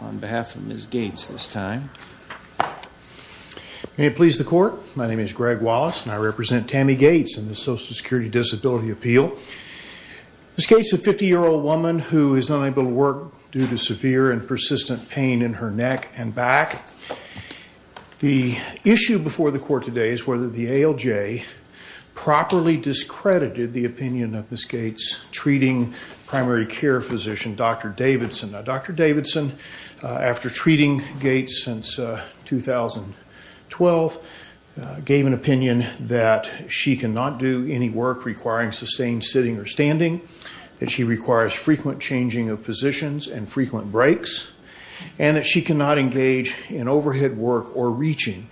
On behalf of Ms. Gates this time. May it please the court, my name is Greg Wallace and I represent Tammy Gates in the Social Security Disability Appeal. Ms. Gates is a 50-year-old woman who is unable to work due to severe and persistent pain in her neck and back. The issue before the court today is whether the ALJ properly discredited the opinion of Ms. Gates' treating primary care physician, Dr. Davidson. Dr. Davidson, after treating Gates since 2012, gave an opinion that she cannot do any work requiring sustained sitting or standing, that she requires frequent changing of positions and frequent breaks, and that she cannot engage in overhead work or reaching.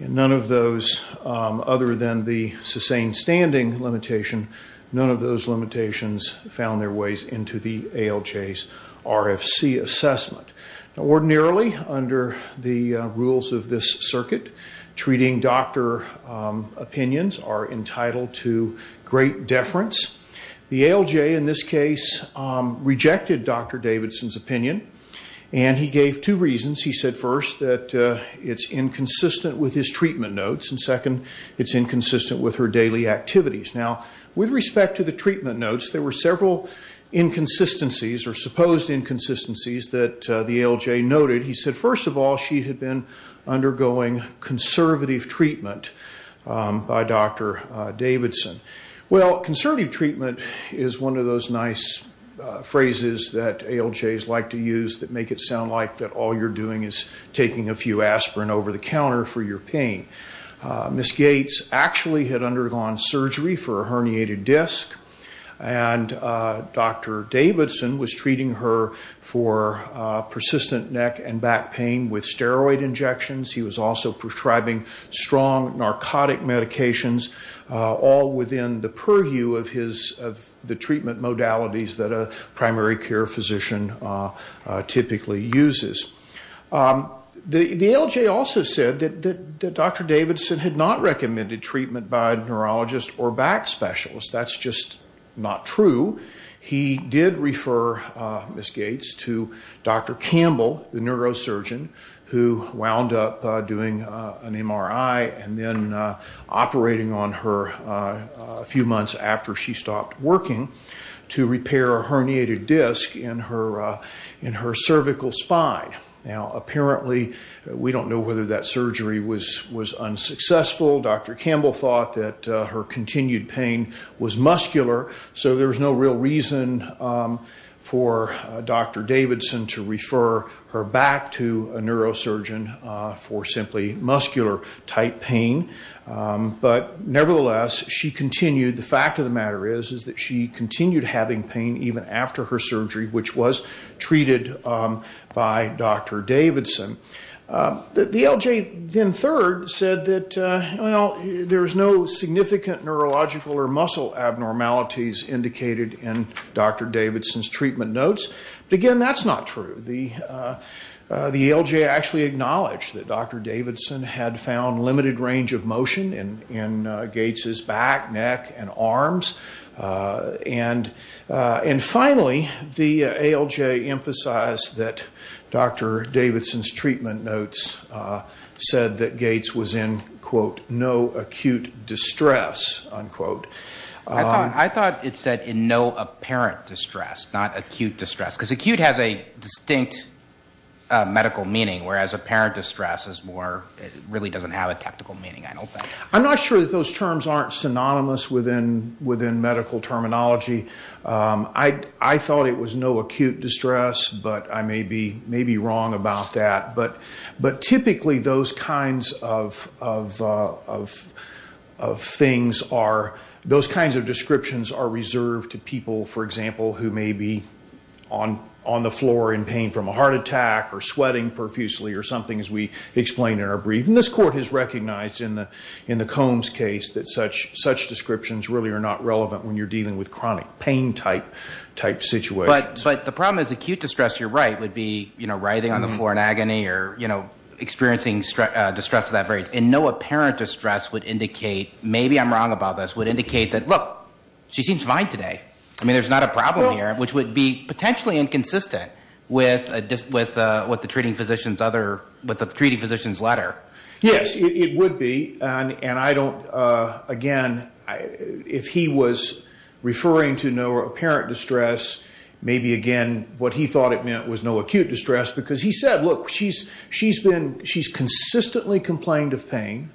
None of those, other than the sustained standing limitation, none of those limitations found their way into the ALJ's RFC assessment. Ordinarily, under the rules of this circuit, treating doctor opinions are entitled to great deference. The ALJ in this case rejected Dr. Davidson's opinion. And he gave two reasons. He said first that it's inconsistent with his treatment notes. And second, it's inconsistent with her daily activities. Now, with respect to the treatment notes, there were several inconsistencies or supposed inconsistencies that the ALJ noted. He said, first of all, she had been undergoing conservative treatment by Dr. Davidson. Well, conservative treatment is one of those nice phrases that ALJs like to use that make it sound like that all you're doing is taking a few aspirin over the counter for your pain. Ms. Gates actually had undergone surgery for a herniated disc, and Dr. Davidson was treating her for persistent neck and back pain with steroid injections. He was also prescribing strong narcotic medications, all within the purview of the treatment modalities that a primary care physician typically uses. The ALJ also said that Dr. Davidson had not recommended treatment by a neurologist or back specialist. That's just not true. He did refer Ms. Gates to Dr. Campbell, the neurosurgeon who wound up doing an MRI and then operating on her a few months after she stopped working to repair a herniated disc in her cervical spine. Now, apparently, we don't know whether that surgery was unsuccessful. Dr. Campbell thought that her continued pain was muscular, so there was no real reason for Dr. Davidson to refer her back to a neurosurgeon for simply muscular-type pain. But nevertheless, she continued. The fact of the matter is that she continued having pain even after her surgery, which was treated by Dr. Davidson. The ALJ then third said that, well, there's no significant neurological or muscle abnormalities indicated in Dr. Davidson's treatment notes. But again, that's not true. The ALJ actually acknowledged that Dr. Davidson had found limited range of motion in Gates's back, neck, and arms. And finally, the ALJ emphasized that Dr. Davidson's treatment notes said that Gates was in, quote, no acute distress, unquote. I thought it said in no apparent distress, not acute distress. Because acute has a distinct medical meaning, whereas apparent distress really doesn't have a technical meaning, I don't think. I'm not sure that those terms aren't synonymous within medical terminology. I thought it was no acute distress, but I may be wrong about that. But typically, those kinds of things are – those kinds of descriptions are reserved to people, for example, who may be on the floor in pain from a heart attack or sweating profusely or something, as we explain in our brief. And this court has recognized in the Combs case that such descriptions really are not relevant when you're dealing with chronic pain-type situations. But the problem is acute distress, you're right, would be writhing on the floor in agony or experiencing distress of that very – and no apparent distress would indicate – maybe I'm wrong about this – would indicate that, look, she seems fine today. I mean, there's not a problem here, which would be potentially inconsistent with the treating physician's letter. Yes, it would be. And I don't – again, if he was referring to no apparent distress, maybe, again, what he thought it meant was no acute distress. Because he said, look, she's consistently complained of pain,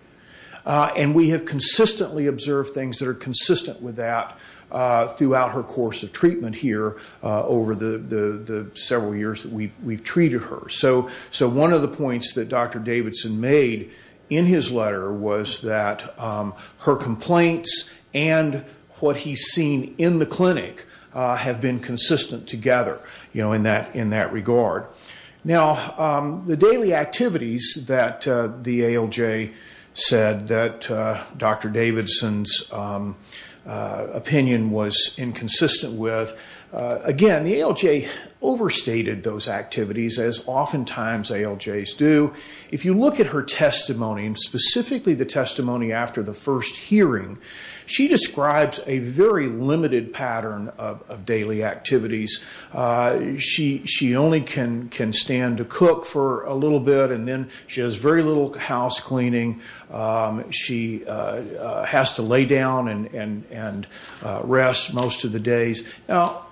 and we have consistently observed things that are consistent with that throughout her course of treatment here over the several years that we've treated her. So one of the points that Dr. Davidson made in his letter was that her complaints and what he's seen in the clinic have been consistent together in that regard. Now, the daily activities that the ALJ said that Dr. Davidson's opinion was inconsistent with, again, the ALJ overstated those activities, as oftentimes ALJs do. If you look at her testimony, and specifically the testimony after the first hearing, she describes a very limited pattern of daily activities. She only can stand to cook for a little bit, and then she has very little house cleaning. She has to lay down and rest most of the days. Now,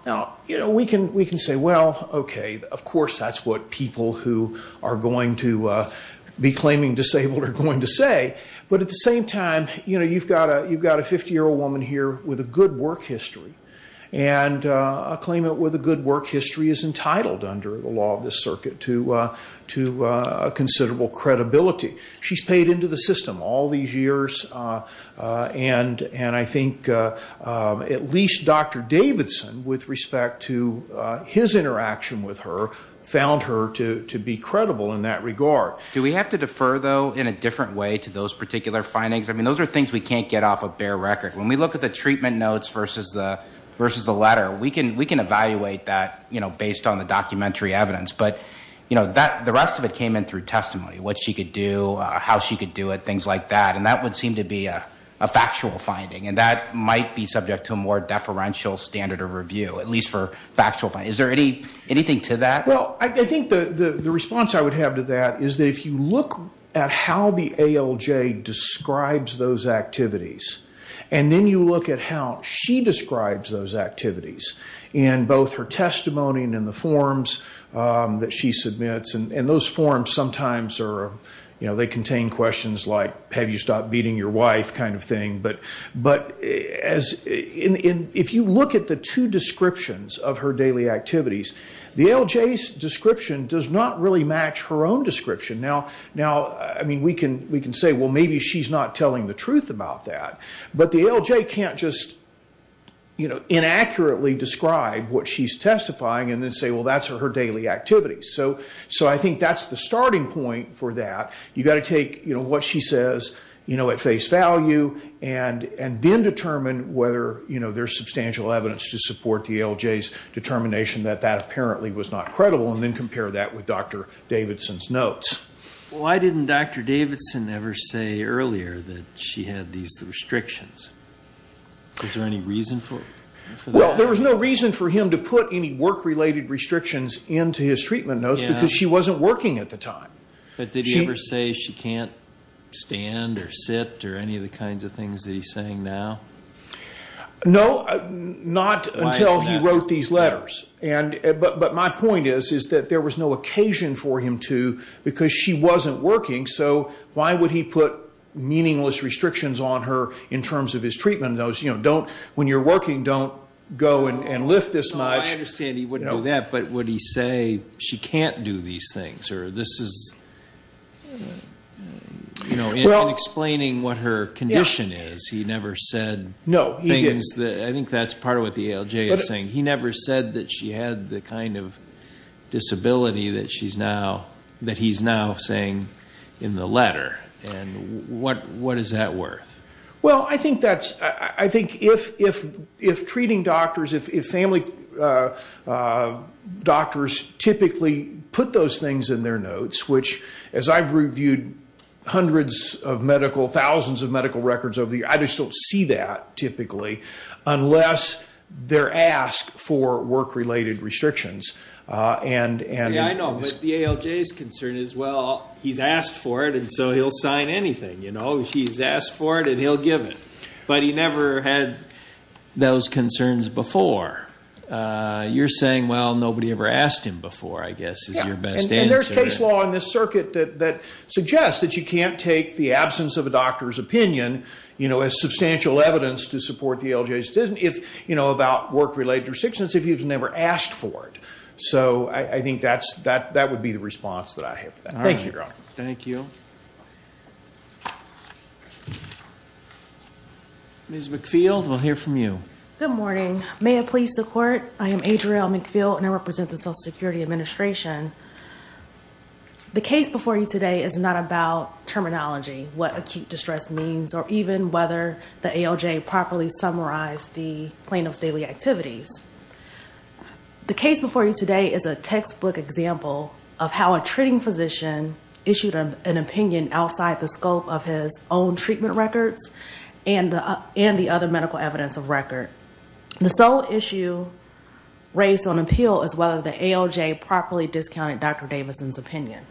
we can say, well, okay, of course that's what people who are going to be claiming disabled are going to say. But at the same time, you've got a 50-year-old woman here with a good work history, and a claimant with a good work history is entitled under the law of this circuit to considerable credibility. She's paid into the system all these years, and I think at least Dr. Davidson, with respect to his interaction with her, found her to be credible in that regard. Do we have to defer, though, in a different way to those particular findings? I mean, those are things we can't get off of bare record. When we look at the treatment notes versus the letter, we can evaluate that based on the documentary evidence. But the rest of it came in through testimony, what she could do, how she could do it, things like that. And that would seem to be a factual finding, and that might be subject to a more deferential standard of review, at least for factual findings. Is there anything to that? Well, I think the response I would have to that is that if you look at how the ALJ describes those activities, and then you look at how she describes those activities in both her testimony and in the forms that she submits, and those forms sometimes contain questions like, have you stopped beating your wife, kind of thing. But if you look at the two descriptions of her daily activities, the ALJ's description does not really match her own description. Now, I mean, we can say, well, maybe she's not telling the truth about that. But the ALJ can't just inaccurately describe what she's testifying and then say, well, that's her daily activities. So I think that's the starting point for that. You've got to take what she says at face value and then determine whether there's substantial evidence to support the ALJ's determination that that apparently was not credible, and then compare that with Dr. Davidson's notes. Why didn't Dr. Davidson ever say earlier that she had these restrictions? Was there any reason for that? Well, there was no reason for him to put any work-related restrictions into his treatment notes because she wasn't working at the time. But did he ever say she can't stand or sit or any of the kinds of things that he's saying now? No, not until he wrote these letters. But my point is, is that there was no occasion for him to, because she wasn't working, so why would he put meaningless restrictions on her in terms of his treatment notes? You know, don't, when you're working, don't go and lift this much. I understand he wouldn't do that, but would he say she can't do these things or this is, you know, in explaining what her condition is, he never said things that, I think that's part of what the ALJ is saying, he never said that she had the kind of disability that he's now saying in the letter. And what is that worth? Well, I think that's, I think if treating doctors, if family doctors typically put those things in their notes, which as I've reviewed hundreds of medical, thousands of medical records over the years, I just don't see that typically unless they're asked for work-related restrictions. Yeah, I know, but the ALJ's concern is, well, he's asked for it and so he'll sign anything, you know. So he's asked for it and he'll give it, but he never had those concerns before. You're saying, well, nobody ever asked him before, I guess, is your best answer. Yeah, and there's case law in this circuit that suggests that you can't take the absence of a doctor's opinion, you know, as substantial evidence to support the ALJ's decision if, you know, about work-related restrictions if he's never asked for it. So I think that would be the response that I have for that. Thank you. Thank you. Ms. McField, we'll hear from you. Good morning. May it please the Court, I am Adriel McField and I represent the Social Security Administration. The case before you today is not about terminology, what acute distress means, or even whether the ALJ properly summarized the plaintiff's daily activities. The case before you today is a textbook example of how a treating physician issued an opinion outside the scope of his own treatment records and the other medical evidence of record. The sole issue raised on appeal is whether the ALJ properly discounted Dr. Davidson's opinion.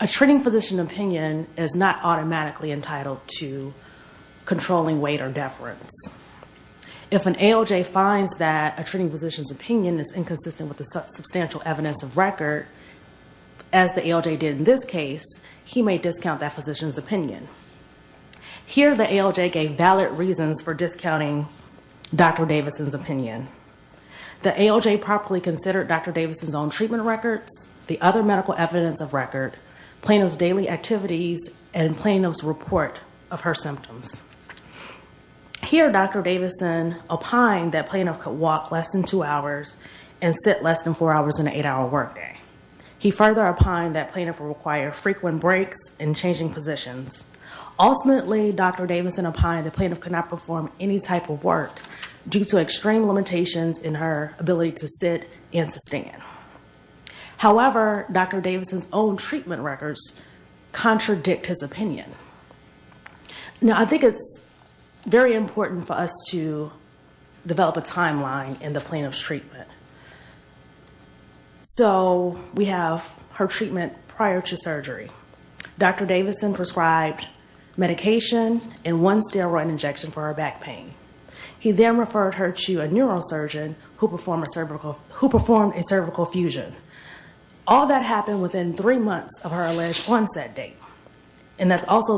A treating physician opinion is not automatically entitled to controlling weight or deference. If an ALJ finds that a treating physician's opinion is inconsistent with the substantial evidence of record, as the ALJ did in this case, he may discount that physician's opinion. Here the ALJ gave valid reasons for discounting Dr. Davidson's opinion. The ALJ properly considered Dr. Davidson's own treatment records, the other medical evidence of record, plaintiff's daily activities, and plaintiff's report of her symptoms. Here Dr. Davidson opined that plaintiff could walk less than two hours and sit less than four hours on an eight-hour workday. He further opined that plaintiff would require frequent breaks and changing positions. Ultimately, Dr. Davidson opined that plaintiff could not perform any type of work due to extreme limitations in her ability to sit and to stand. However, Dr. Davidson's own treatment records contradict his opinion. Now I think it's very important for us to develop a timeline in the plaintiff's treatment. So we have her treatment prior to surgery. Dr. Davidson prescribed medication and one steroid injection for her back pain. He then referred her to a neurosurgeon who performed a cervical fusion. All that happened within three months of her alleged onset date. And that's also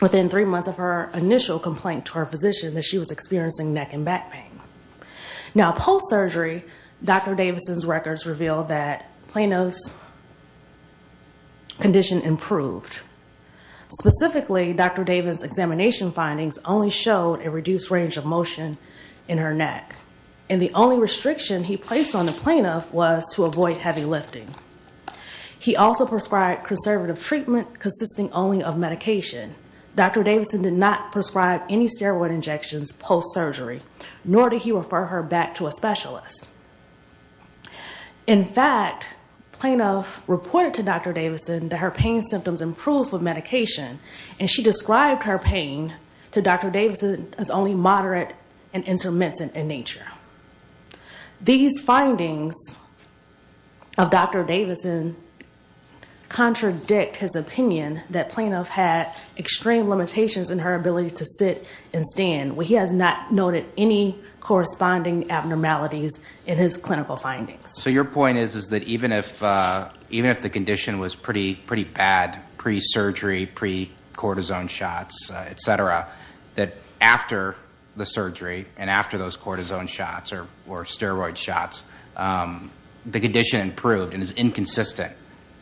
within three months of her initial complaint to her physician that she was experiencing neck and back pain. Now post-surgery, Dr. Davidson's records reveal that Plano's condition improved. Specifically, Dr. Davidson's examination findings only showed a reduced range of motion in her neck. And the only restriction he placed on the plaintiff was to avoid heavy lifting. He also prescribed conservative treatment consisting only of medication. Dr. Davidson did not prescribe any steroid injections post-surgery. In fact, plaintiff reported to Dr. Davidson that her pain symptoms improved with medication. And she described her pain to Dr. Davidson as only moderate and intermittent in nature. These findings of Dr. Davidson contradict his opinion that plaintiff had extreme limitations in her ability to sit and stand. He has not noted any corresponding abnormalities in his clinical findings. So your point is that even if the condition was pretty bad pre-surgery, pre-cortisone shots, etc., that after the surgery and after those cortisone shots or steroid shots, the condition improved and is inconsistent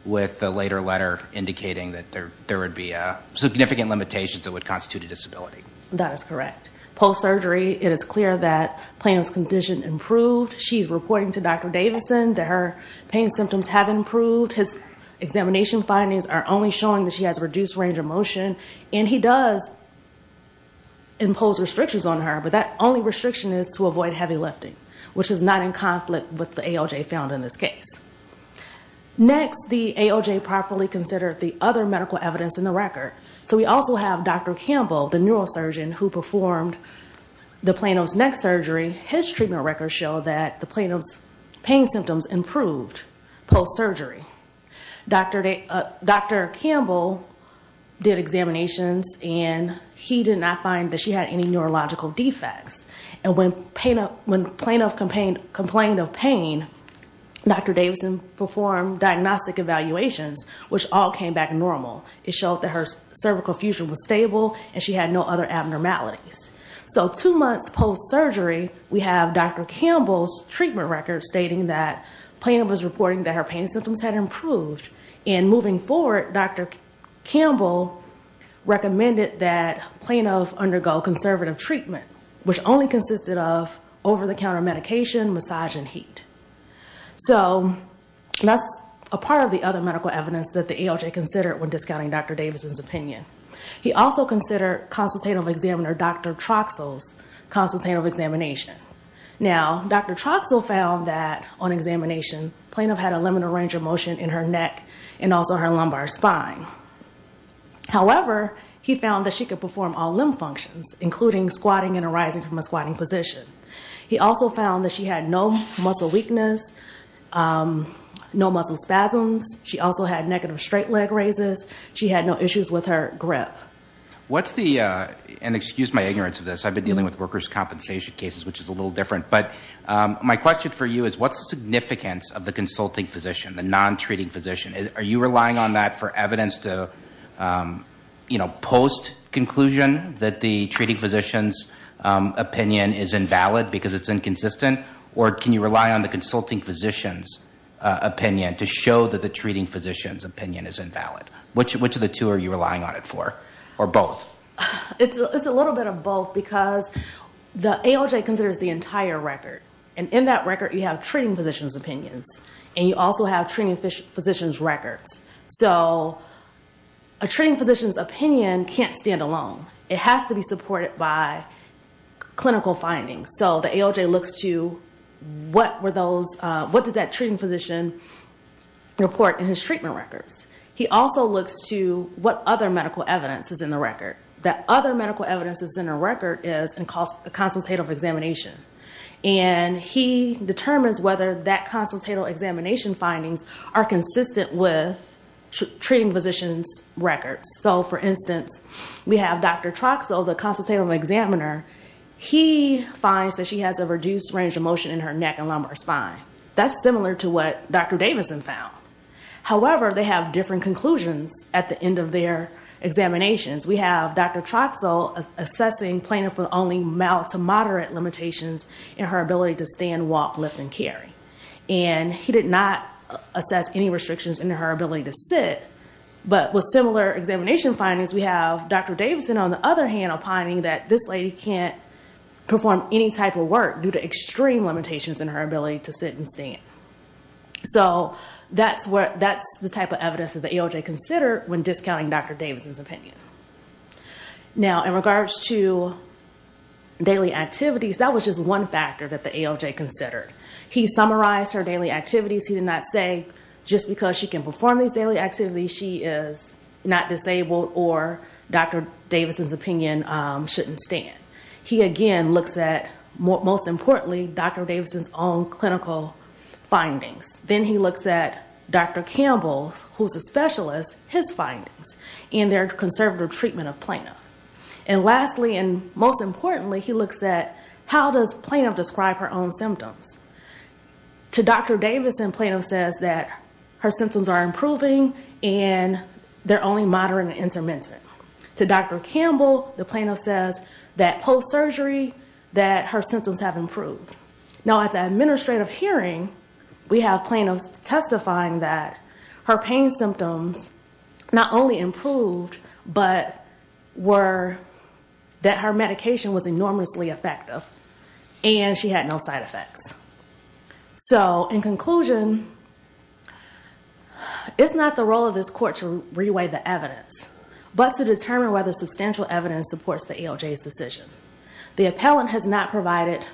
with the later letter indicating that there would be significant limitations that would constitute a disability. That is correct. Post-surgery, it is clear that plaintiff's condition improved. She's reporting to Dr. Davidson that her pain symptoms have improved. His examination findings are only showing that she has a reduced range of motion. And he does impose restrictions on her, but that only restriction is to avoid heavy lifting, which is not in conflict with the ALJ found in this case. Next, the ALJ properly considered the other medical evidence in the record. So we also have Dr. Campbell, the neurosurgeon who performed the plaintiff's neck surgery. His treatment records show that the plaintiff's pain symptoms improved post-surgery. Dr. Campbell did examinations, and he did not find that she had any neurological defects. And when plaintiff complained of pain, Dr. Davidson performed diagnostic evaluations, which all came back normal. It showed that her cervical fusion was stable, and she had no other abnormalities. So two months post-surgery, we have Dr. Campbell's treatment records stating that plaintiff was reporting that her pain symptoms had improved. And moving forward, Dr. Campbell recommended that plaintiff undergo conservative treatment, which only consisted of over-the-counter medication, massage, and heat. So that's a part of the other medical evidence that the ALJ considered when discounting Dr. Davidson's opinion. He also considered consultative examiner Dr. Troxell's consultative examination. Now, Dr. Troxell found that on examination, plaintiff had a limited range of motion in her neck and also her lumbar spine. However, he found that she could perform all limb functions, including squatting and arising from a squatting position. He also found that she had no muscle weakness, no muscle spasms. She also had negative straight leg raises. She had no issues with her grip. What's the – and excuse my ignorance of this. I've been dealing with workers' compensation cases, which is a little different. But my question for you is, what's the significance of the consulting physician, the non-treating physician? Are you relying on that for evidence to, you know, post-conclusion that the treating physician's opinion is invalid because it's inconsistent? Or can you rely on the consulting physician's opinion to show that the treating physician's opinion is invalid? Which of the two are you relying on it for, or both? It's a little bit of both because the ALJ considers the entire record. And in that record, you have treating physician's opinions, and you also have treating physician's records. So a treating physician's opinion can't stand alone. It has to be supported by clinical findings. So the ALJ looks to what were those – what did that treating physician report in his treatment records? He also looks to what other medical evidence is in the record. That other medical evidence that's in the record is a consultative examination. And he determines whether that consultative examination findings are consistent with treating physician's records. So, for instance, we have Dr. Troxell, the consultative examiner. He finds that she has a reduced range of motion in her neck and lumbar spine. That's similar to what Dr. Davidson found. However, they have different conclusions at the end of their examinations. We have Dr. Troxell assessing plaintiff with only mild to moderate limitations in her ability to stand, walk, lift, and carry. And he did not assess any restrictions in her ability to sit. But with similar examination findings, we have Dr. Davidson, on the other hand, opining that this lady can't perform any type of work due to extreme limitations in her ability to sit and stand. So that's the type of evidence that the ALJ considered when discounting Dr. Davidson's opinion. Now, in regards to daily activities, that was just one factor that the ALJ considered. He summarized her daily activities. He did not say, just because she can perform these daily activities, she is not disabled or Dr. Davidson's opinion shouldn't stand. He, again, looks at, most importantly, Dr. Davidson's own clinical findings. Then he looks at Dr. Campbell, who's a specialist, his findings and their conservative treatment of plaintiff. And lastly, and most importantly, he looks at how does plaintiff describe her own symptoms. To Dr. Davidson, plaintiff says that her symptoms are improving and they're only moderate and intermittent. To Dr. Campbell, the plaintiff says that post-surgery, that her symptoms have improved. Now, at the administrative hearing, we have plaintiffs testifying that her pain symptoms not only improved, but that her medication was enormously effective and she had no side effects. So, in conclusion, it's not the role of this court to re-weigh the evidence, but to determine whether substantial evidence supports the ALJ's decision. The appellant has not provided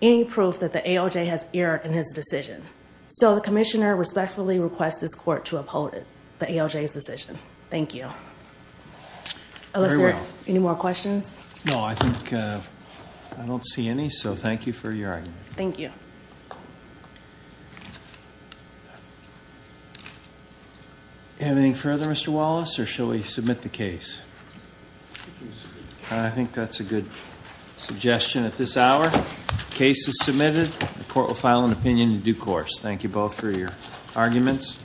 any proof that the ALJ has erred in his decision. So, the commissioner respectfully requests this court to uphold the ALJ's decision. Thank you. Very well. Any more questions? No, I think I don't see any, so thank you for your argument. Thank you. Anything further, Mr. Wallace, or shall we submit the case? I think that's a good suggestion at this hour. Case is submitted. The court will file an opinion in due course. Thank you both for your arguments.